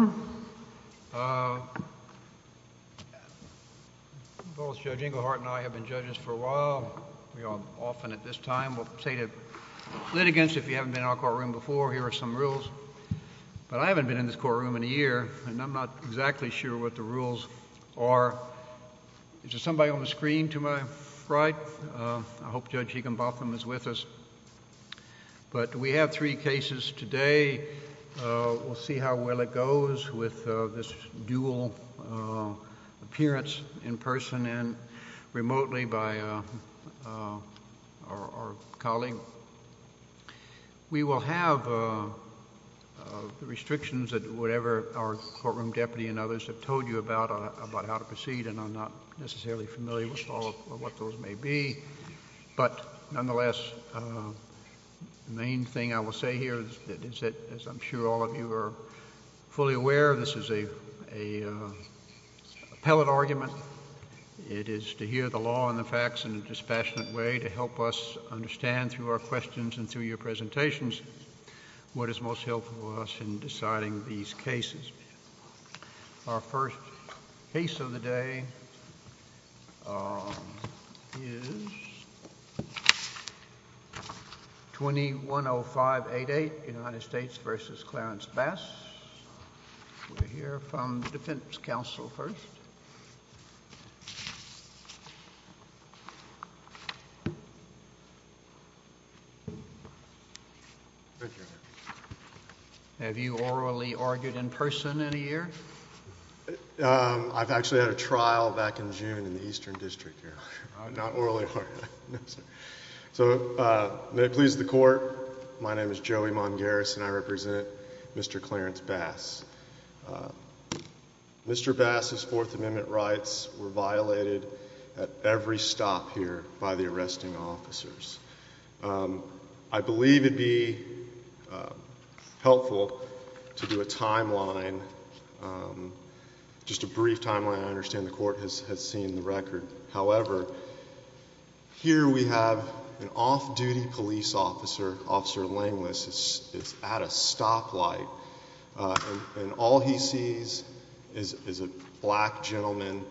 uh... both judging or i have been judged for a while often at this time of stated litigants if you have been a courtroom before here are some rules but i haven't been in the courtroom in a year and i'm not exactly sure what the rules is somebody on the screen to my right hope judge egan botham is with us but we have three cases today uh... we'll see how well it goes with uh... this dual appearance in person and remotely by uh... our colleague we will have uh... restrictions that whatever our courtroom deputy and others have told you about uh... about how to proceed and i'm not necessarily familiar with all of what those may be but nonetheless uh... main thing i will say here is that as i'm sure all of you are fully aware of this is a appellate argument it is to hear the law and the facts in a dispassionate way to help us understand through our questions and through your presentations what is most helpful to us in deciding these cases our first case of the day twenty one oh five eight eight united states versus clarence bass we'll hear from defense counsel first uh... have you orally argued in person in a year uh... i've actually had a trial back in june in the eastern district here uh... not orally so uh... may it please the court my name is joey mongaris and i represent mister clarence bass uh... mister bass's fourth amendment rights were violated at every stop here by the arresting officers i believe it'd be helpful to do a timeline just a brief timeline i understand the court has seen the record however here we have an off-duty police officer officer langlis is at a stoplight uh... and all he sees is is a black gentleman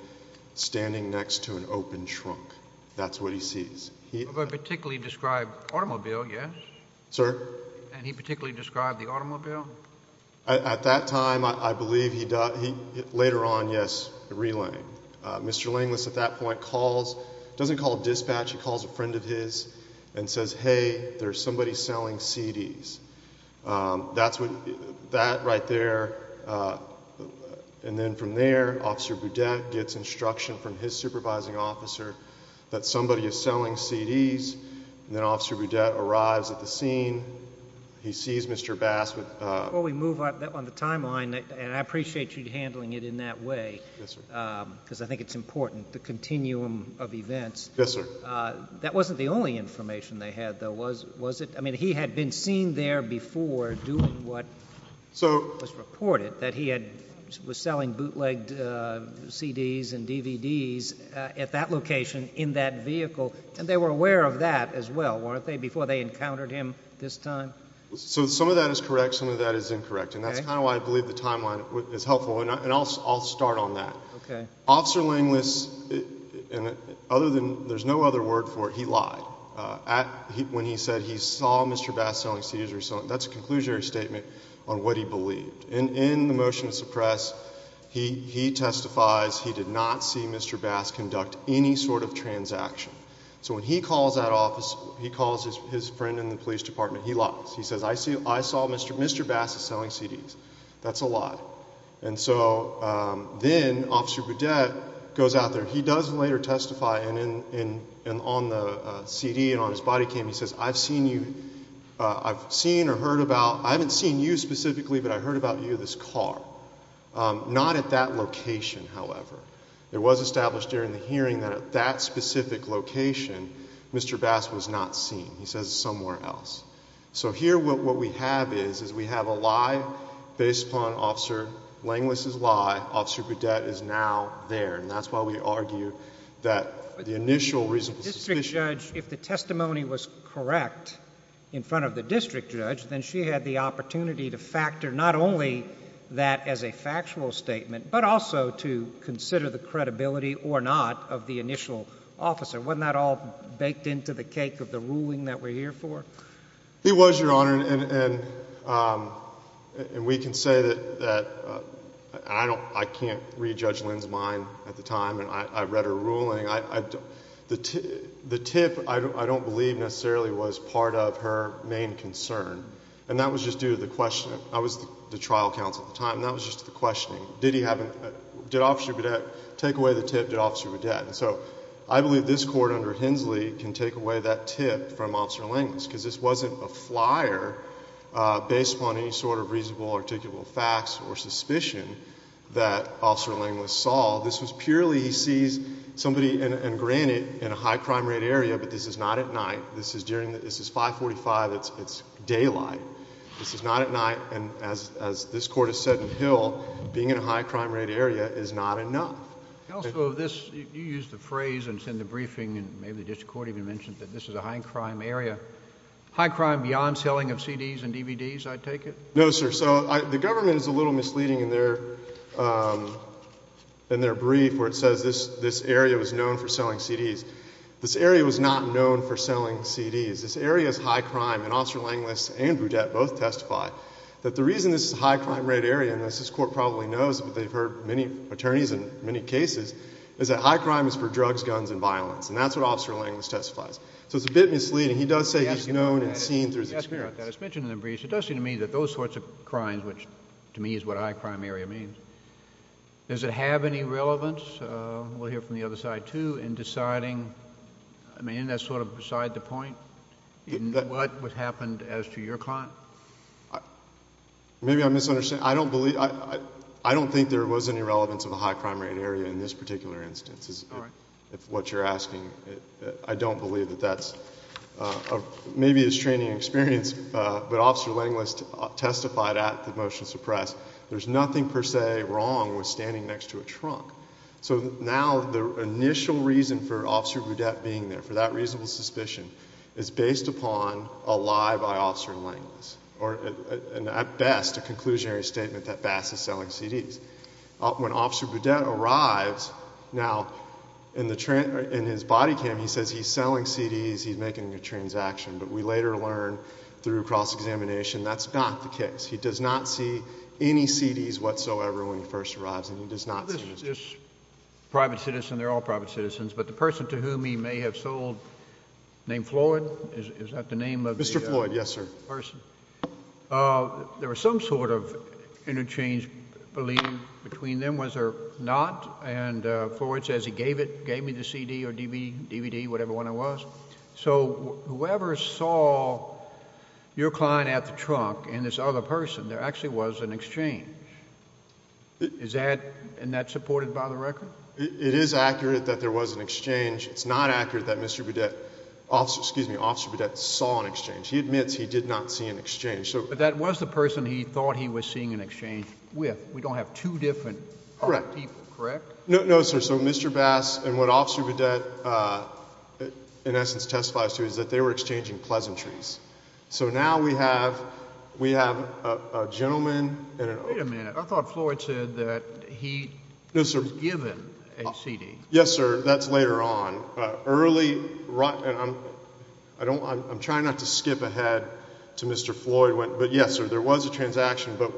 standing next to an open trunk that's what he sees he particularly described automobile yes and he particularly described the automobile at that time i i believe he died later on yes relayed uh... mister langlis at that point calls doesn't call dispatch he calls a friend of his and says hey there's somebody selling cds uh... that's what that right there and then from there officer boudet gets instruction from his supervising officer that somebody is selling cds then officer boudet arrives at the scene he sees mister bass with uh... well we move on the timeline and i appreciate you handling it in that way uh... because i think it's important the continuum of events that wasn't the only information they had though was was it i mean he had been seen there before doing what was reported that he had was selling bootlegged uh... cds and dvds at that location in that vehicle and they were aware of that as well weren't they before they encountered him this time so some of that is correct some of that is incorrect and that's kind of why i believe the timeline is helpful and i'll start on that officer langlis other than there's no other word for it he lied uh... at when he said he saw mister bass selling cds or something that's a conclusionary statement on what he believed and in the motion to suppress he he testifies he did not see mister bass conduct any sort of transaction so when he calls that office he calls his friend in the police department he lies he says i saw mister bass selling cds that's a lie and so uh... then officer boudet goes out there he does later testify and in and on the uh... cd and on his body cam he says i've seen you uh... i've seen or heard about i haven't seen you specifically but i've heard about you this car uh... not at that location however it was established during the hearing that at that specific location mister bass was not seen he says somewhere else so here what what we have is is we have a lie based upon officer langlis' lie officer boudet is now there and that's why we argue that the initial reasonable suspicion if the testimony was correct in front of the district judge then she had the opportunity to factor not only that as a factual statement but also to consider the credibility or not of the initial officer wasn't that all baked into the cake of the ruling that we're here for it was your honor and and uh... and we can say that that i don't i can't rejudge linds mine at the time and i i've read a ruling i i don't the to the tip i don't i don't believe necessarily was part of her main concern and that was just due to the question the trial counsel time that was just the question did he have a did officer boudet take away the tip did officer boudet i believe this court under hensley can take away that tip from officer langlis because this wasn't a flyer uh... based on any sort of reasonable articulable facts or suspicion that officer langlis saw this was purely he sees somebody and and granted in a high crime rate area but this is not at night this is during this is five forty five it's it's daylight this is not at night and as as this court has said in hill being in a high crime rate area is not enough counsel this you use the phrase and send a briefing and maybe the district court even mentioned that this is a high crime area high crime beyond selling of cds and dvds i take it no sir so the government is a little misleading in their uh... in their brief where it says this this area was known for selling cds this area was not known for selling cds this area is high crime and officer langlis and boudet both testify that the reason this is a high crime rate area and as this court probably knows they've heard many attorneys in many cases is that high crime is for drugs guns and violence and that's what officer langlis testifies so it's a bit misleading he does say he's known and seen through his experience it does seem to me that those sorts of crimes which to me is what high crime area means does it have any relevance uh... we'll hear from the other side too in deciding I mean isn't that sort of beside the point in what happened as to your client maybe I'm misunderstanding I don't believe I don't think there was any relevance of a high crime rate area in this particular instance if what you're asking I don't believe that that's uh... maybe it's training experience but officer langlis testified at the motion to press there's nothing per se wrong with standing next to a trunk so now the initial reason for officer boudet being there for that reasonable suspicion is based upon a lie by officer langlis or at best a conclusionary statement that bass is selling cds when officer boudet arrives now in his body cam he says he's selling cds he's making a transaction but we later learn through cross-examination that's not the case he does not see any cds whatsoever when he first arrives and he does not see them private citizen they're all private citizens but the person to whom he may have sold named floyd is that the name of the person uh... there was some sort of interchange believe between them was there not and uh... floyd says he gave it gave me the cd or dvd dvd whatever one it was so whoever saw your client at the trunk and this other person there actually was an exchange is that and that's supported by the record it is accurate that there was an exchange it's not accurate that mister boudet officer excuse me officer boudet saw an exchange he admits he did not see an we don't have two different no sir so mister bass and what officer boudet in essence testifies to is that they were exchanging pleasantries so now we have we have uh... a gentleman wait a minute i thought floyd said that he was given a cd yes sir that's later on uh... early i'm trying not to skip ahead to mister floyd but yes sir there was a transaction but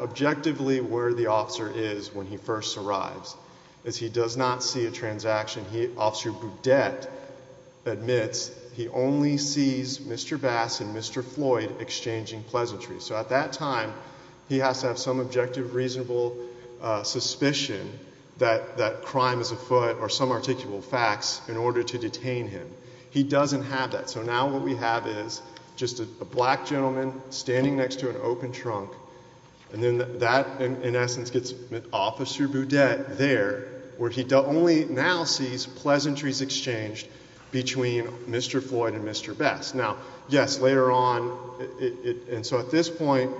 objectively where the officer is when he first arrives is he does not see a transaction he officer boudet admits he only sees mister bass and mister floyd exchanging pleasantries so at that time he has to have some objective reasonable uh... suspicion that that crime is afoot or some articulable facts in order to detain him he doesn't have that so now what we have is just a black gentleman standing next to an open trunk and then that in essence gets officer boudet there where he only now sees pleasantries exchanged between mister floyd and mister bass now yes later on it and so at this point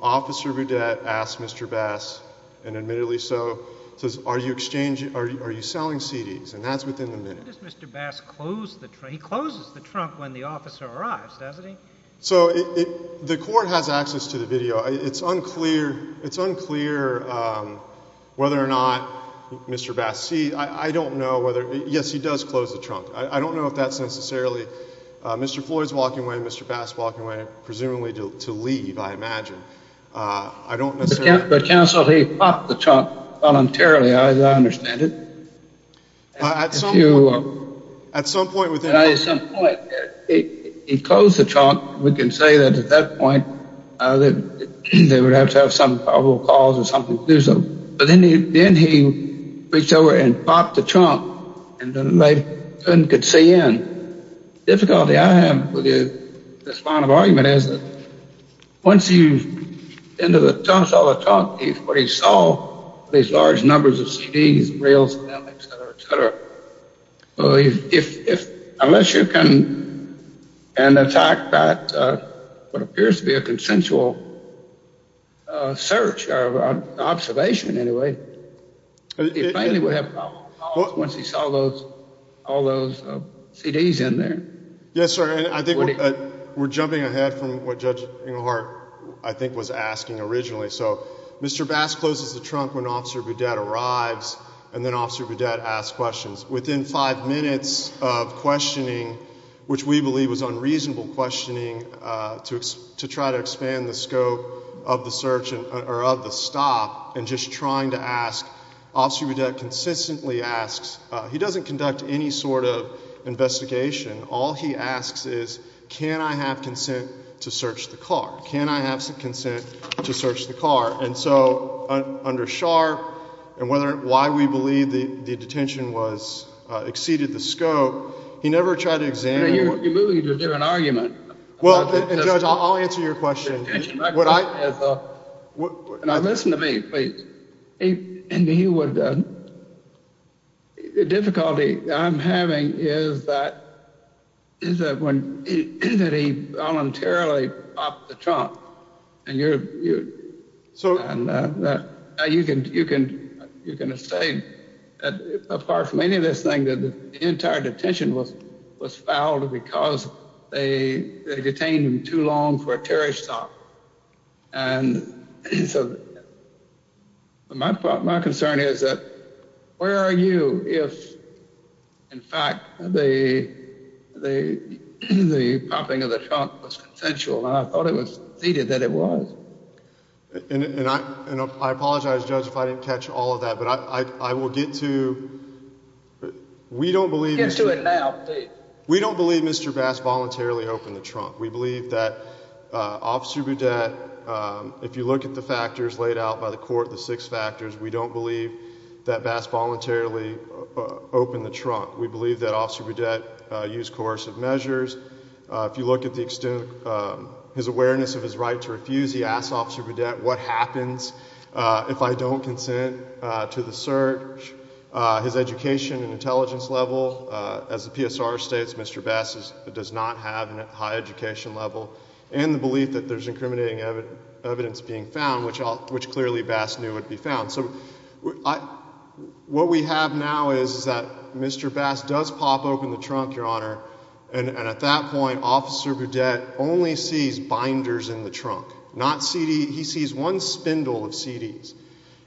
officer boudet asks mister bass and admittedly so says are you exchanging are you selling cds and that's within the minute why does mister bass close the trunk he closes the trunk when the officer arrives doesn't he so it the court has access to the video it's unclear it's unclear uh... whether or not mister bass see i don't know whether yes he does close the trunk i don't know if that's necessarily uh... mister floyd's walking away mister bass walking away presumably to leave i imagine uh... i don't necessarily but counsel he popped the trunk voluntarily i understand it at some point at some point within he closed the trunk we can say that at that point uh... that they would have to have some probable cause or something to do so but then he reached over and popped the trunk and the lady couldn't see in difficulty i have with you this final argument is that once you've been to the trunk where he saw these large numbers of cds rails etc etc uh... if if unless you can and attack that uh... what appears to be a consensual uh... search uh... observation anyway he plainly would have probable cause once he saw those all those cds in there yes sir and i think we're jumping ahead from what judge inglehart i think was asking originally so Mr. Bass closes the trunk when officer budette arrives and then officer budette asks questions within five minutes of questioning which we believe was unreasonable questioning uh... to try to expand the scope of the search or of the stop and just trying to ask officer budette consistently asks he doesn't conduct any sort of investigation all he asks is can i have consent to search the car can i have some consent to search the car and so under schar and why we believe the detention was exceeded the scope he never tried to examine it well judge i'll answer your question now listen to me please and he would uh... the difficulty i'm having is that is that when he voluntarily popped the trunk and you're so you can you can you can say that apart from any of this thing that the entire detention was was fouled because they detained him too long for a terrorist stop and so my concern is that where are you if in fact the the the popping of the trunk was consensual and i thought it was stated that it was and i apologize judge if i didn't catch all of that but i will get to we don't believe we don't believe mr bass voluntarily opened the trunk we believe that uh... officer budette uh... if you look at the factors laid out by the court the six factors we don't believe that bass voluntarily opened the trunk we believe that officer budette used coercive measures uh... if you look at the extent his awareness of his right to refuse he asked officer budette what happens uh... if i don't consent to the search uh... his education and intelligence level uh... as the PSR states mr bass does not have a high education level and the belief that there's incriminating evidence being found which clearly bass knew would be found what we have now is that mr bass does pop open the trunk your honor and at that point officer budette only sees binders in the trunk not cd he sees one spindle of cds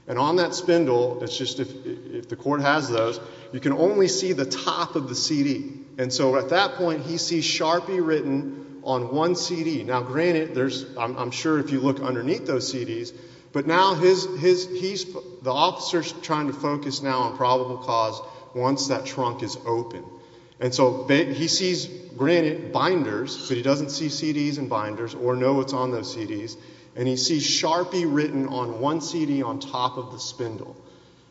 and on that spindle it's just if the court has those you can only see the top of the cd and so at that point he sees sharpie written on one cd now granted there's i'm sure if you look underneath those cds but now his he's the officer's trying to focus now on probable cause once that trunk is open and so he sees granted binders but he doesn't see cds and binders or know what's on those cds and he sees sharpie written on one cd on top of the spindle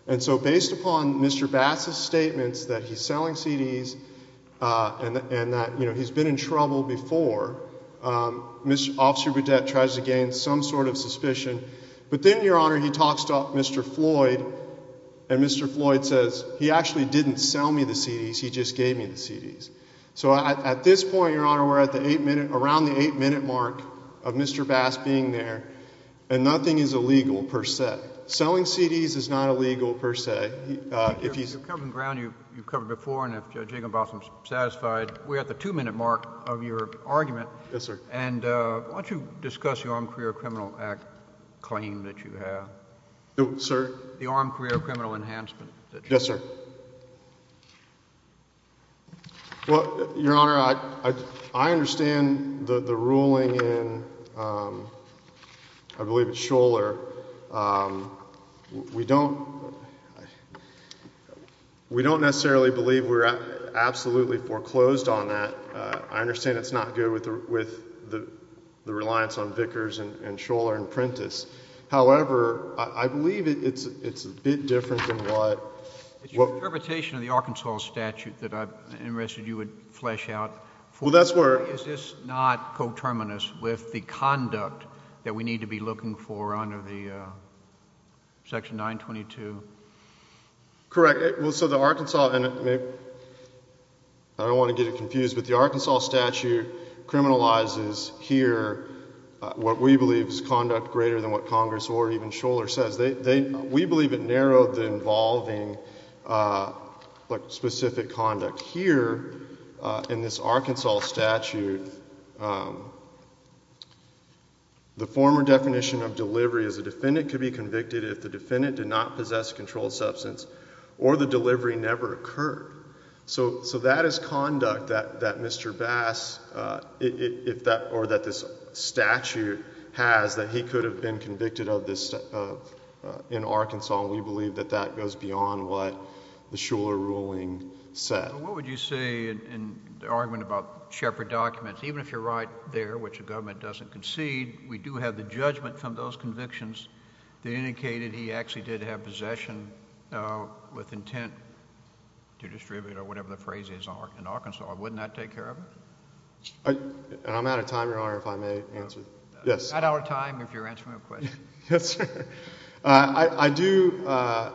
and so based upon mr bass's statements that he's selling cds uh... and and that you know he's been in trouble before uh... miss officer budette tries to gain some sort of suspicion but then your honor he talks to mr floyd and mr floyd says he actually didn't sell me the cds he just gave me the cds so at this point your honor we're at the eight minute around the eight minute mark of mr bass being there and nothing is illegal per se selling cds is not illegal per se uh... if he's covering ground you've covered before and if judge jacob boston's satisfied we're at the two minute mark of your argument yes sir and uh... why don't you discuss your armed career criminal act claim that you have no sir the armed career criminal enhancement well your honor i understand the ruling in i believe it's schoeller uh... we don't we don't necessarily believe we're absolutely foreclosed on that uh... i understand it's not good with the reliance on vickers and schoeller and printis however i believe it's it's a bit different than what it's your interpretation of the arkansas statute that i'm interested you would flesh out well that's where is this not coterminous with the conduct that we need to be looking for under the uh... section nine twenty two correct so the arkansas i don't want to get it confused with the arkansas statute criminalizes here uh... what we believe is conduct greater than what congress or even schoeller says they we believe it narrowed the involving uh... like specific conduct here uh... in this arkansas statute uh... the former definition of delivery is a defendant could be convicted if the defendant did not possess controlled substance or the delivery never occurred so so that is conduct that that mister bass uh... if that or that this statute has that he could have been convicted of this uh... in arkansas we believe that that goes beyond what the schoeller ruling said what would you say in the argument about shepherd documents even if you're right there which the government doesn't concede we do have the judgment from those convictions they indicated he actually did have possession uh... with intent to distribute or whatever the phrase is in arkansas wouldn't that take care of it uh... and i'm out of time your honor if i may answer yes at our time if you're answering a question yes sir uh... i i do uh...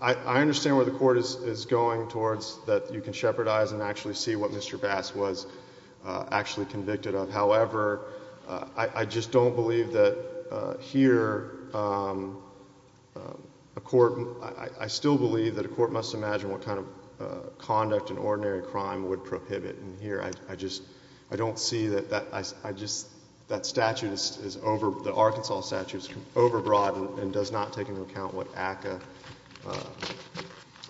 i understand where the court is going towards that you can shepherdize and actually see what mister bass was uh... actually convicted of however uh... i i just don't believe that uh... here uh... a court i still believe that a court must imagine what kind of uh... conduct in ordinary crime would prohibit and here i i just i don't see that that i i just that statute is over the arkansas statute is over broadened and does not take into account what akka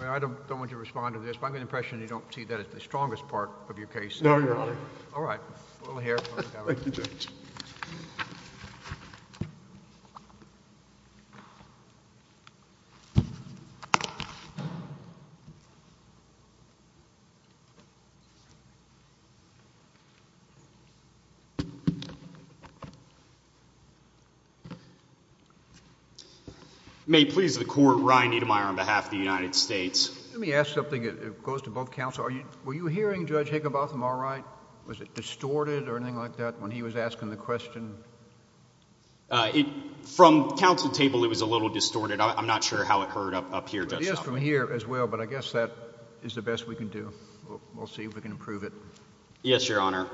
i don't don't want to respond to this but i have the impression you don't see that it's the strongest part of your case no your honor we'll hear from the judge may it please the court ryan niedermeyer on behalf of the united states let me ask something that goes to both counsel were you hearing judge higginbotham all right was it distorted or anything like that when he was asking the question uh... it from counsel's table it was a little distorted i'm not sure how it heard up up here yes from here as well but i guess that is the best we can do we'll see if we can improve it yes your honor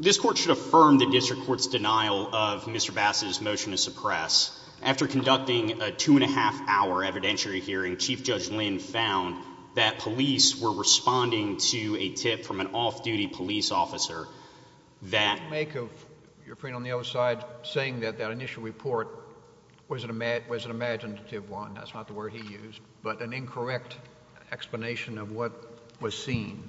this court should affirm the district court's denial of mister bass's motion to after conducting a two-and-a-half hour evidentiary hearing chief judge lynn found that police were responding to a tip from an off-duty police officer that make of your friend on the other side saying that that initial report was an imaginative one that's not the word he used but an incorrect explanation of what was seen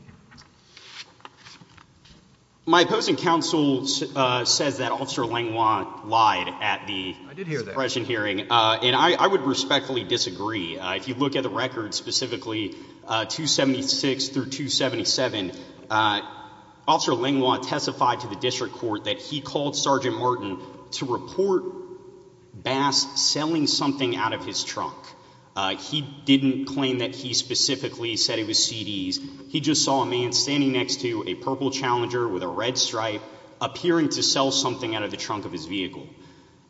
my opposing counsel says that officer langlois lied at the suppression hearing uh... and i i would respectfully disagree uh... if you look at the records specifically uh... two seventy six through two seventy seven officer langlois testified to the district court that he called sergeant martin to report bass selling something out of his trunk uh... he didn't claim that he specifically said it was cds he just saw a man standing next to a purple challenger with a red stripe appearing to sell something out of the trunk of his vehicle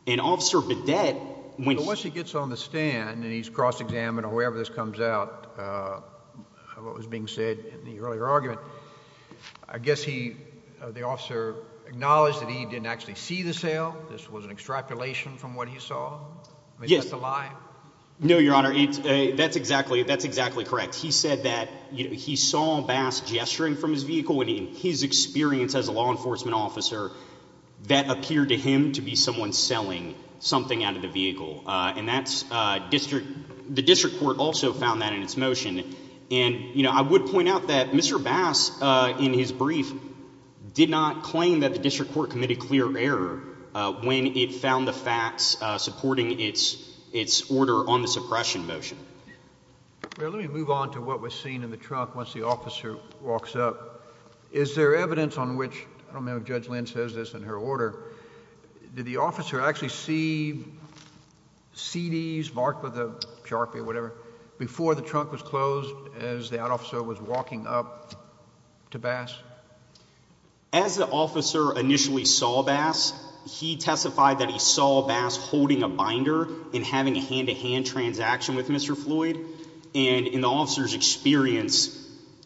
and officer bidet once he gets on the stand and he's cross-examined or wherever this comes out what was being said in the earlier argument i guess he the officer acknowledged that he didn't actually see the sale this was an extrapolation from what he saw is that a lie no your honor that's exactly that's exactly correct he said that he saw bass gesturing from his vehicle and in his experience as a law enforcement officer that appeared to him to be someone selling something out of the vehicle uh... and that's uh... district the district court also found that in its motion and you know i would point out that mister bass uh... in his brief did not claim that the district court committed clear error uh... when it found the facts supporting its its order on the suppression motion let me move on to what was seen in the trunk once the officer walks up is there evidence on which i don't know if judge lynn says this in her order did the officer actually see cds marked with a sharpie or whatever before the trunk was closed as that officer was walking up to bass as the officer initially saw bass he testified that he saw bass holding a binder and having a hand to hand transaction with mister floyd and in the officer's experience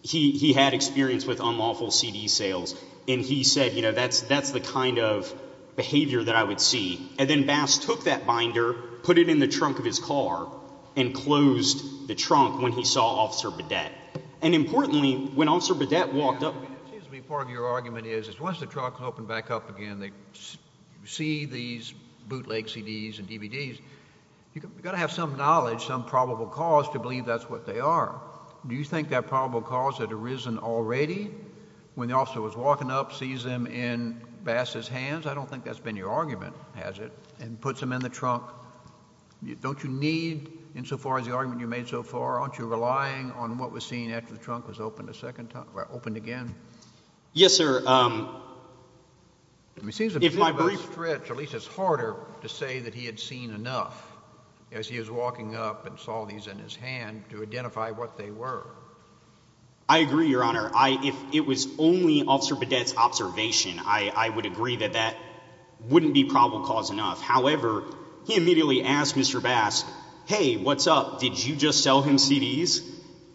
he he had experience with unlawful cd sales and he said you know that's that's the kind of behavior that i would see and then bass took that binder put it in the trunk of his car and closed the trunk when he saw officer bidet and importantly when officer bidet walked up it seems to me part of your argument is once the trunk is open back up again you see these bootleg cds and dvds you gotta have some knowledge some probable cause to believe that's what they are do you think that probable cause had arisen already when the officer was walking up sees them in bass's hands i don't think that's been your argument and puts them in the trunk don't you need insofar as the argument you made so far aren't you relying on what was seen after the trunk was opened a second time or opened again yes sir uh... it seems to me it's harder to say that he had seen enough as he was walking up and saw these in his hand to identify what they were i agree your honor i if it was only officer bidet's observation i i would agree that that wouldn't be probable cause enough however he immediately asked mr bass hey what's up did you just sell him cds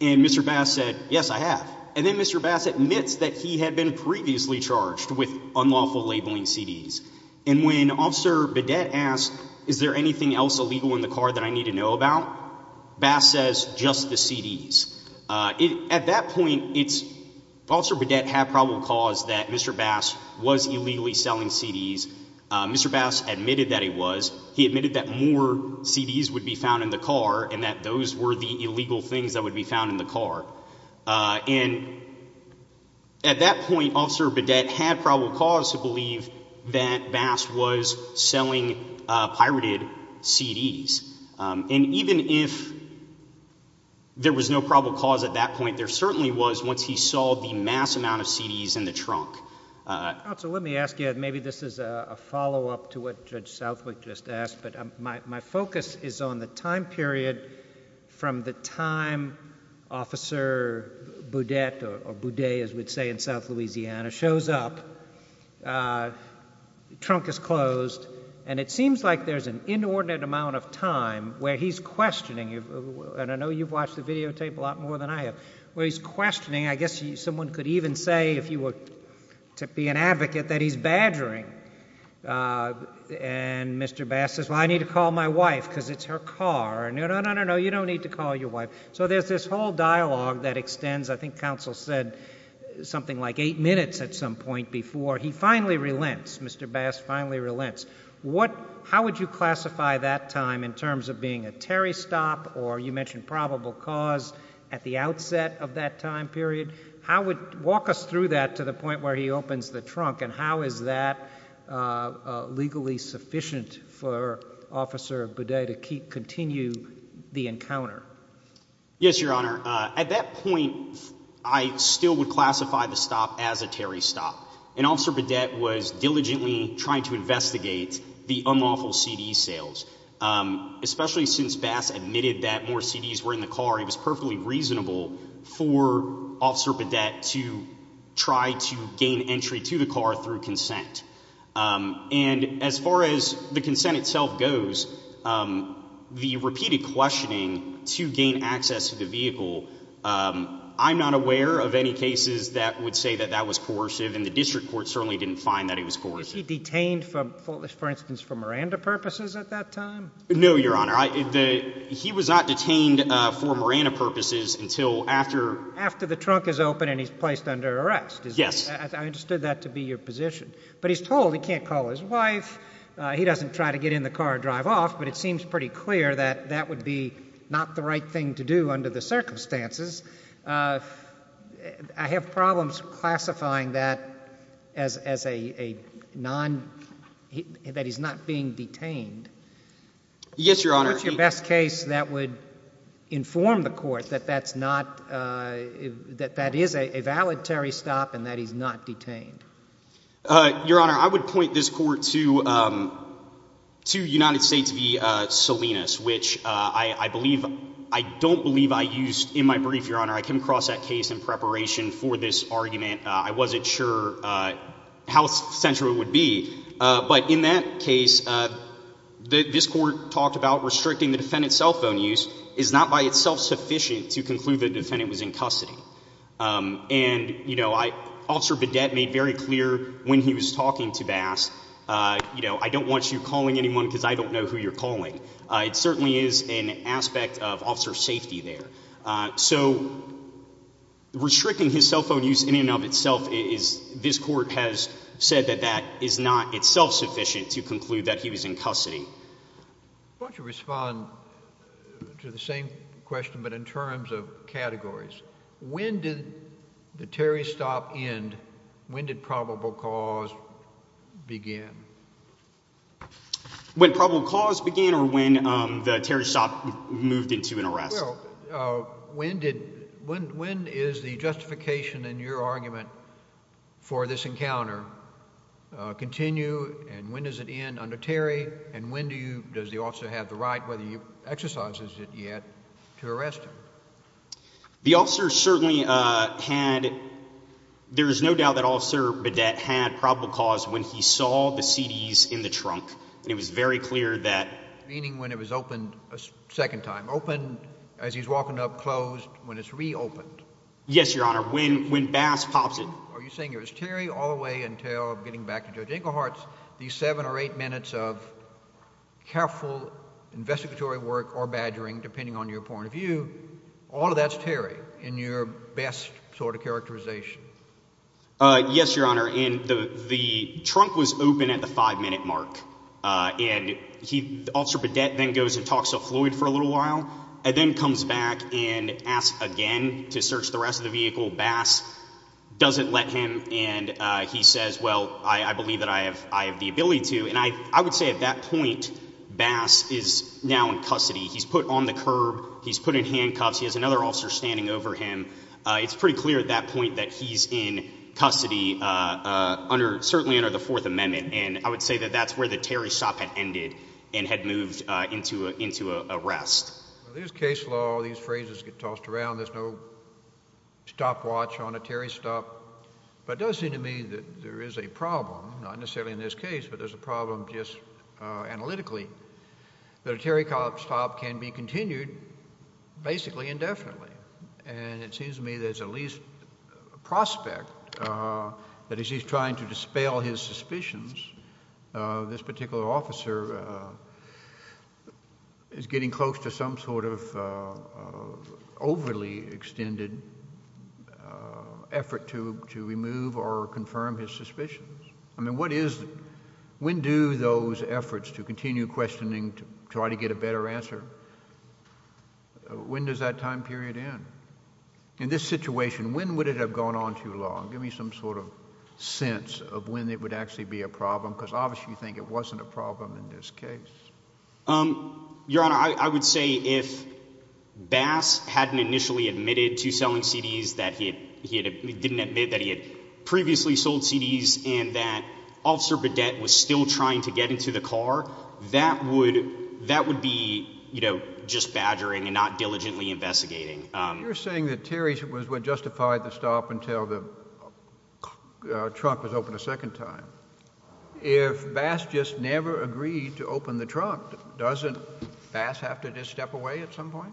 and mr bass said yes i have and then mr bass admits that he had been previously charged with unlawful labeling cds and when officer bidet asked is there anything else illegal in the car that i need to know about bass says just the cds uh... at that point it's officer bidet had probable cause that mr bass was illegally selling cds uh... mr bass admitted that he was he admitted that more cds would be found in the car and that those were the illegal things that would be found in the car uh... and at that point officer bidet had probable cause to believe that bass was selling uh... pirated cds uh... and even if there was no probable cause at that point there certainly was once he saw the mass amount of cds in the trunk uh... counsel let me ask you maybe this is uh... a follow-up to what judge southwick just asked but my focus is on the time period from the time officer bidet or bidet as we'd say in south louisiana shows up uh... trunk is closed and it seems like there's an inordinate amount of time where he's questioning you and i know you've watched the videotape a lot more than i have where he's questioning i guess someone could even say if you were to be an advocate that he's badgering uh... and mr bass says well i need to call my wife because it's her car and there's this whole dialogue that extends i think counsel said something like eight minutes at some point before he finally relents mister bass finally relents how would you classify that time in terms of being a terry stop or you mentioned probable cause at the outset of that time period how would walk us through that to the point where he opens the trunk and how is that uh... legally sufficient for officer bidet to continue the encounter yes your honor uh... at that point i'd still would classify the stop as a terry stop and officer bidet was diligently trying to investigate the unlawful cd sales uh... especially since bass admitted that more cds were in the car it was perfectly reasonable for officer bidet to try to gain entry to the car through consent uh... and as far as the consent itself goes uh... the repeated questioning to gain access to the vehicle uh... i'm not aware of any cases that would say that that was coercive and the district court certainly didn't find that it was coercive detained from for instance for miranda purposes at that time no your honor he was not detained uh... for miranda purposes until after after the trunk is open and he's placed under arrest yes i understood that to be your position but he's told he can't call his wife uh... he doesn't try to get in the car drive off but it seems pretty clear that that would be not the right thing to do under the circumstances uh... uh... i have problems classifying that as as a a non that he's not being detained yes your honor what's your best case that would inform the court that that's not uh... that that is a a valid terry stop and that he's not detained uh... your honor i would point this court to uh... to united states v uh... salinas which uh... i i believe i don't believe i used in my brief your honor i came across that case in preparation for this argument uh... i wasn't sure uh... how central it would be uh... but in that case uh... this court talked about restricting the defendant's cell phone use is not by itself sufficient to conclude the defendant was in custody uh... and you know i officer bidet made very clear when he was talking to bass uh... you know i don't want you calling anyone because i don't know who you're calling uh... it certainly is an aspect of officer safety there uh... so restricting his cell phone use in and of itself is this court has said that that is not itself sufficient to conclude that he was in custody why don't you respond to the same question but in terms of categories when did the terry's stop end when did probable cause begin when probable cause began or when um... the terry's stop moved into an arrest uh... when did when when is the justification in your argument for this encounter uh... continue and when does it end under terry and when do you does the officer have the right whether he exercises it yet to arrest him the officer certainly uh... had there's no doubt that officer bidet had probable cause when he saw the cds in the trunk it was very clear that meaning when it was opened second time open as he's walking up closed when it's re-opened yes your honor when when bass pops in are you saying it was terry all the way until getting back to judge inglehart's these seven or eight minutes of careful investigatory work or badgering depending on your point of view all of that's terry in your best sort of characterization uh... yes your honor in the the trunk was open at the five minute mark uh... and he officer bidet then goes and talks to floyd for a little while and then comes back and asks again to search the rest of the vehicle bass doesn't let him and uh... he says well i i believe that i have i have the ability to and i i would say at that point bass is now in custody he's put on the curb he's put in handcuffs he has another officer standing over him uh... it's pretty clear at that point that he's in custody uh... under certainly under the fourth amendment and i would say that that's where the terry stop had ended and had moved uh... into a into a arrest there's case law all these phrases get tossed around there's no stopwatch on a terry stop but it does seem to me that there is a problem not necessarily in this case but there's a problem just uh... analytically that a terry stop can be continued basically indefinitely and it seems to me there's at least prospect uh... that as he's trying to dispel his suspicions uh... this particular officer uh... is getting close to some sort of uh... overly extended uh... effort to to remove or confirm his suspicions i mean what is when do those efforts to continue questioning to try to get a better answer when does that time period end in this situation when would it have gone on too long give me some sort of sense of when it would actually be a problem because obviously you think it wasn't a problem in this case your honor i i would say if bass hadn't initially admitted to selling cds that he had he didn't admit that he had previously sold cds and that officer bidet was still trying to get into the car that would that would be you know just badgering and not diligently investigating uh... you're saying that terry was what justified the stop until the uh... trunk was opened a second time if bass just never agreed to open the trunk doesn't bass have to just step away at some point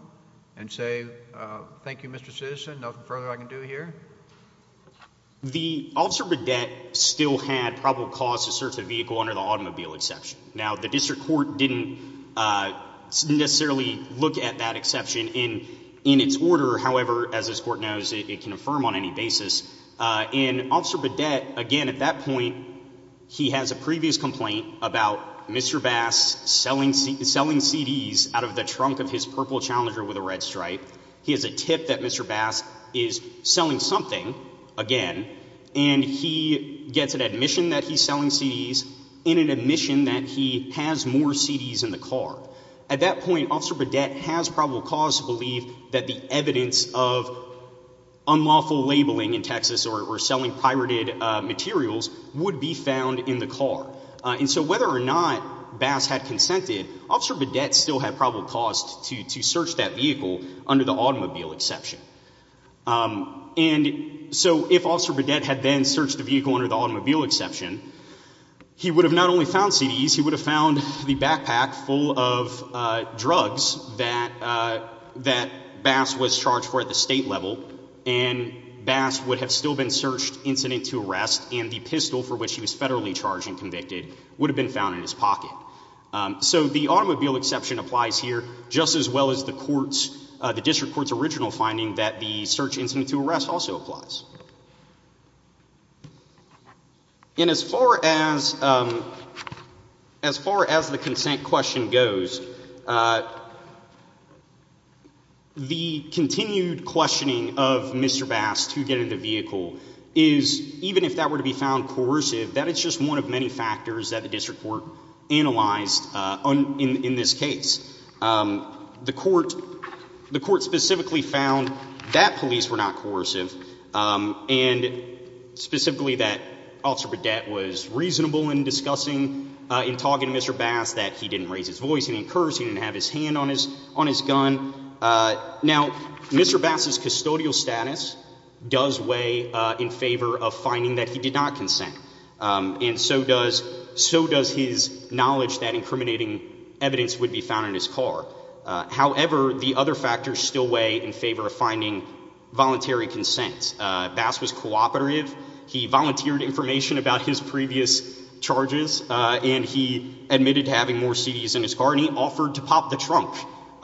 and say uh... thank you mister citizen nothing further i can do here the officer bidet still had probable cause to search the vehicle under the automobile exception now the district court didn't necessarily look at that exception in in its order however as this court knows it can affirm on any basis uh... and officer bidet again at that point he has a previous complaint about mister bass selling cds out of the trunk of his purple challenger with a red stripe he has a tip that mister bass is selling something again and he gets an admission that he's selling cds in an admission that he has more cds in the car at that point officer bidet has probable cause to believe that the evidence of unlawful labeling in texas or selling pirated uh... materials would be found in the car uh... and so whether or not bass had consented officer bidet still had probable cause to to search that vehicle under the automobile exception uh... and so if officer bidet had then searched the vehicle under the automobile exception he would have not only found cds he would have found the backpack full of uh... drugs that uh... that bass was charged for at the state level and bass would have still been searched incident to arrest and the pistol for which he was federally charged and convicted would have been found in his pocket uh... so the automobile exception applies here just as well as the courts uh... the district court's original finding that the search incident to arrest also applies and as far as uh... as far as the consent question goes uh... the continued questioning of mister bass to get in the vehicle is even if that were to be found coercive that is just one of many factors that the district court analyzed uh... on in in this case the court the court specifically found that police were not coercive uh... and specifically that officer bidet was reasonable in discussing uh... in talking to mister bass that he didn't raise his voice he didn't curse he didn't have his hand on his on his gun uh... now mister bass's custodial status does weigh uh... in favor of finding that he did not consent uh... and so does so does his knowledge that incriminating evidence would be found in his car uh... however the other factors still weigh in favor of finding voluntary consent uh... bass was cooperative he volunteered information about his previous charges uh... and he admitted having more cds in his car and he offered to pop the trunk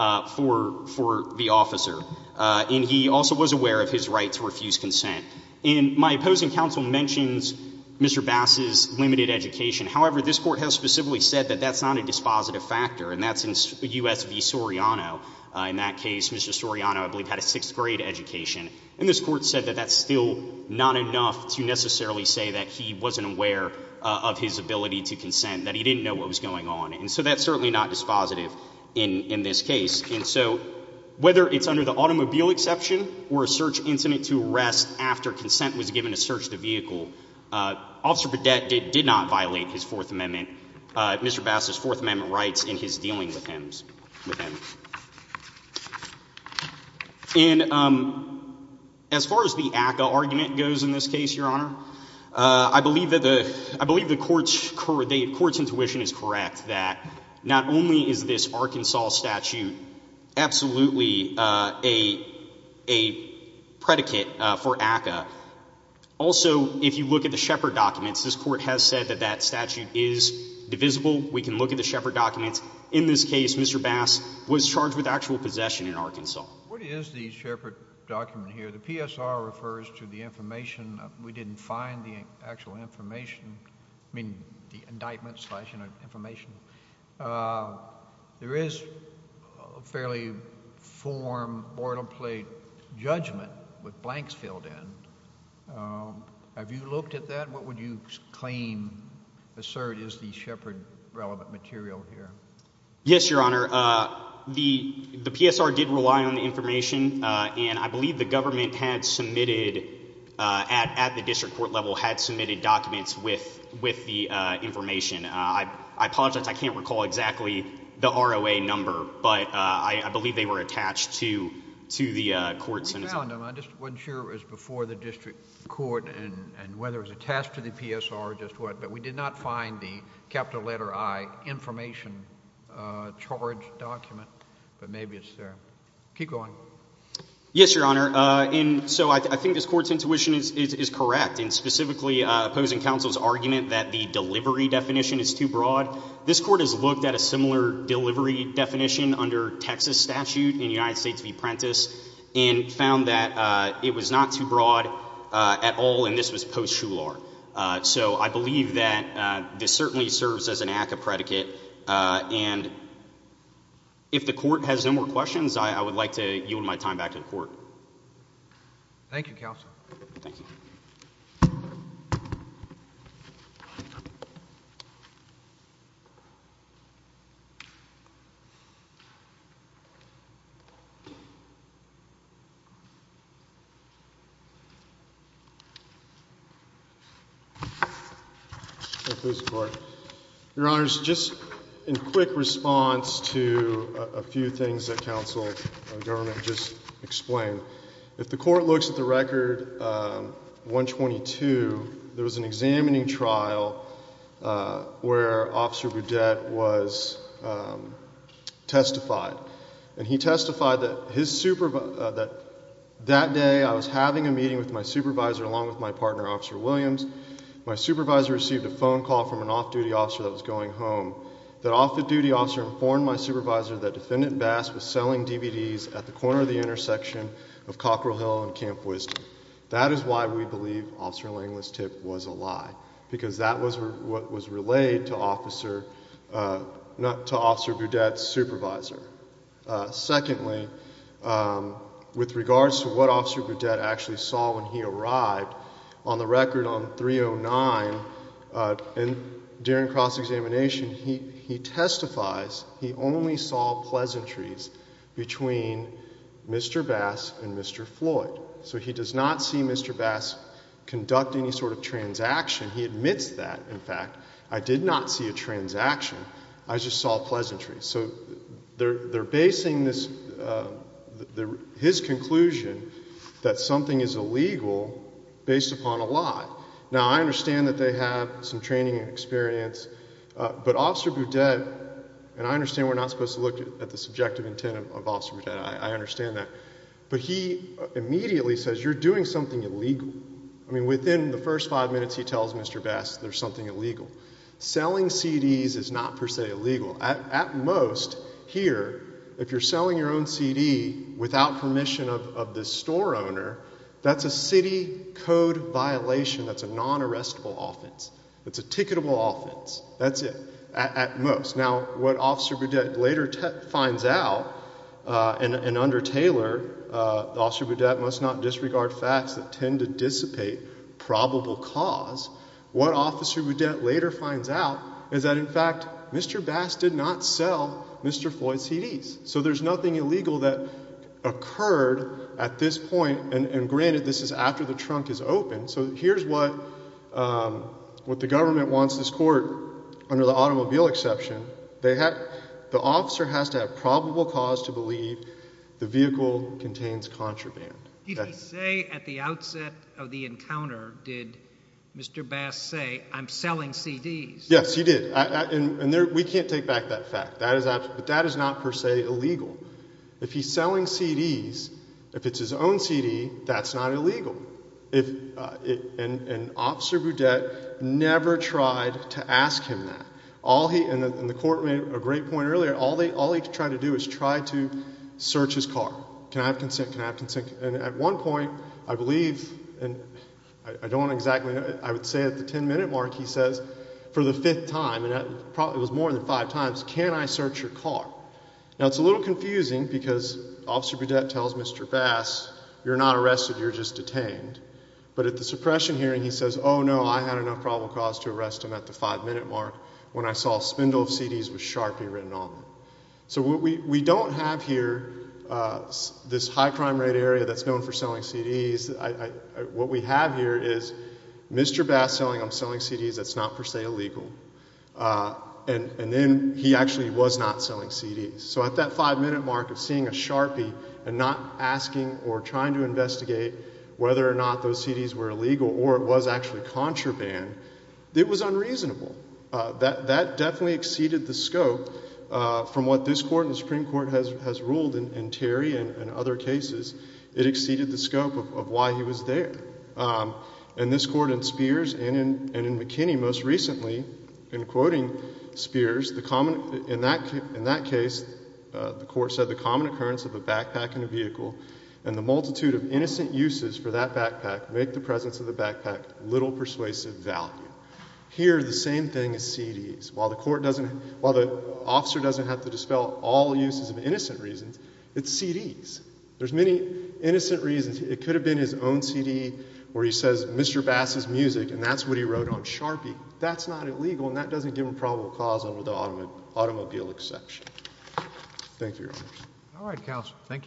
uh... for for the officer uh... and he also was aware of his right to refuse consent and my opposing counsel mentions mister bass's limited education however this court has specifically said that that's not a dispositive factor and that's in usv soriano uh... in that case mister soriano I believe had a sixth grade education and this court said that that's still not enough to necessarily say that he wasn't aware uh... of his ability to consent that he didn't know what was going on and so that's certainly not dispositive in in this case and so whether it's under the automobile exception or a search incident to arrest after consent was given to search the vehicle uh... officer bidet did not violate his fourth amendment uh... mister bass's fourth amendment rights in his dealing with him and um... as far as the ACA argument goes in this case your honor uh... i believe that the i believe the court's intuition is correct that not only is this arkansas statute absolutely uh... a a predicate uh... for ACA also if you look at the shepherd documents this court has said that that statute is divisible we can look at the shepherd documents in this case mister bass was charged with actual possession in arkansas what is the shepherd document here the PSR refers to the information we didn't find the actual information the indictment slash information uh... there is fairly form mortal plate judgment with blanks filled in have you looked at that what would you claim assert is the shepherd relevant material here yes your honor uh... the the PSR did rely on the information uh... and i believe the government had submitted uh... at at the district court level had submitted documents with with the uh... information uh... i apologize i can't recall exactly the ROA number but uh... i i believe they were attached to to the uh... courts and i just wasn't sure it was before the district court and and whether it was attached to the PSR or just what but we did not find the capital letter I information uh... charge document but maybe it's there keep going yes your honor uh... in so i think this court's intuition is is is correct in specifically uh... opposing counsel's argument that the delivery definition is too broad this court has looked at a similar delivery definition under texas statute in united states v prentiss and found that uh... it was not too broad uh... at all and this was post shular uh... so i believe that uh... this certainly serves as an act of predicate uh... and if the court has no more questions i i would like to yield my time back to the court thank you counsel thank you your honors just in quick response to uh... a few things that counsel government just explained if the court looks at the record uh... one twenty two there was an examining trial uh... where officer boudette was testified and he testified that his supervisor that that day i was having a meeting with my supervisor along with my partner officer williams my supervisor received a phone call from an off-duty officer that was going home that off-duty officer informed my supervisor that defendant bass was selling dvds at the corner of the intersection of cockrell hill and camp wisdom that is why we believe officer langlis tip was a lie because that was what was relayed to officer uh... to officer boudette's supervisor uh... secondly uh... with regards to what officer boudette actually saw when he arrived on the record on three oh nine uh... and during cross-examination he he testifies he only saw pleasantries between mister bass and mister floyd so he does not see mister bass conducting sort of transaction he admits that in fact i did not see a transaction i just saw pleasantries they're basing this uh... his conclusion that something is illegal based upon a lie now i understand that they have some training and experience uh... but officer boudette and i understand we're not supposed to look at the subjective intent of officer boudette i understand that but he immediately says you're doing something illegal i mean within the first five minutes he tells mister bass there's something illegal selling cds is not per se illegal at most here if you're selling your own cd without permission of of the store owner that's a city code violation that's a non-arrestable offense it's a ticketable offense that's it at most now what officer boudette later finds out uh... and and under taylor uh... officer boudette must not disregard facts that tend to dissipate probable cause what officer boudette later finds out is that in fact mister bass did not sell mister floyd cds so there's nothing illegal that occurred at this point and and granted this is after the trunk is open so here's what uh... what the government wants this court under the automobile exception the officer has to have probable cause to believe the vehicle contains contraband did he say at the outset of the encounter did mister bass say i'm selling cds yes he did and we can't take back that fact that is not per se illegal if he's selling cds if it's his own cd that's not illegal and officer boudette never tried to ask him that all he and the court made a great point earlier all he tried to do is try to search his car can i have consent can i have consent and at one point i believe i don't exactly know i would say at the ten minute mark he says for the fifth time and that was probably more than five times can i search your car now it's a little confusing because officer boudette tells mister bass you're not arrested you're just detained but at the suppression hearing he says oh no i had enough probable cause to arrest him at the five minute mark when i saw a spindle of cds with sharpie written on it so what we don't have here this high crime rate area that's known for selling cds what we have here is mister bass saying i'm selling cds that's not per se illegal and then he actually was not selling cds so at that five minute mark of seeing a sharpie and not asking or trying to investigate whether or not those cds were illegal or it was actually contraband it was unreasonable that definitely exceeded the scope uh... from what this court and the supreme court has ruled in terry and other cases it exceeded the scope of why he was there and this court in spears and in mckinney most recently in quoting spears the common in that case the court said the common occurrence of a backpack in a vehicle and the multitude of innocent uses for that backpack make the presence of the backpack little persuasive value here the same thing as cds while the court doesn't while the officer doesn't have to dispel all uses of innocent reasons it's cds there's many innocent reasons it could have been his own cd where he says mister bass's music and that's what he wrote on sharpie that's not illegal and that doesn't give him probable cause under the automobile exception thank you alright counsel thank you both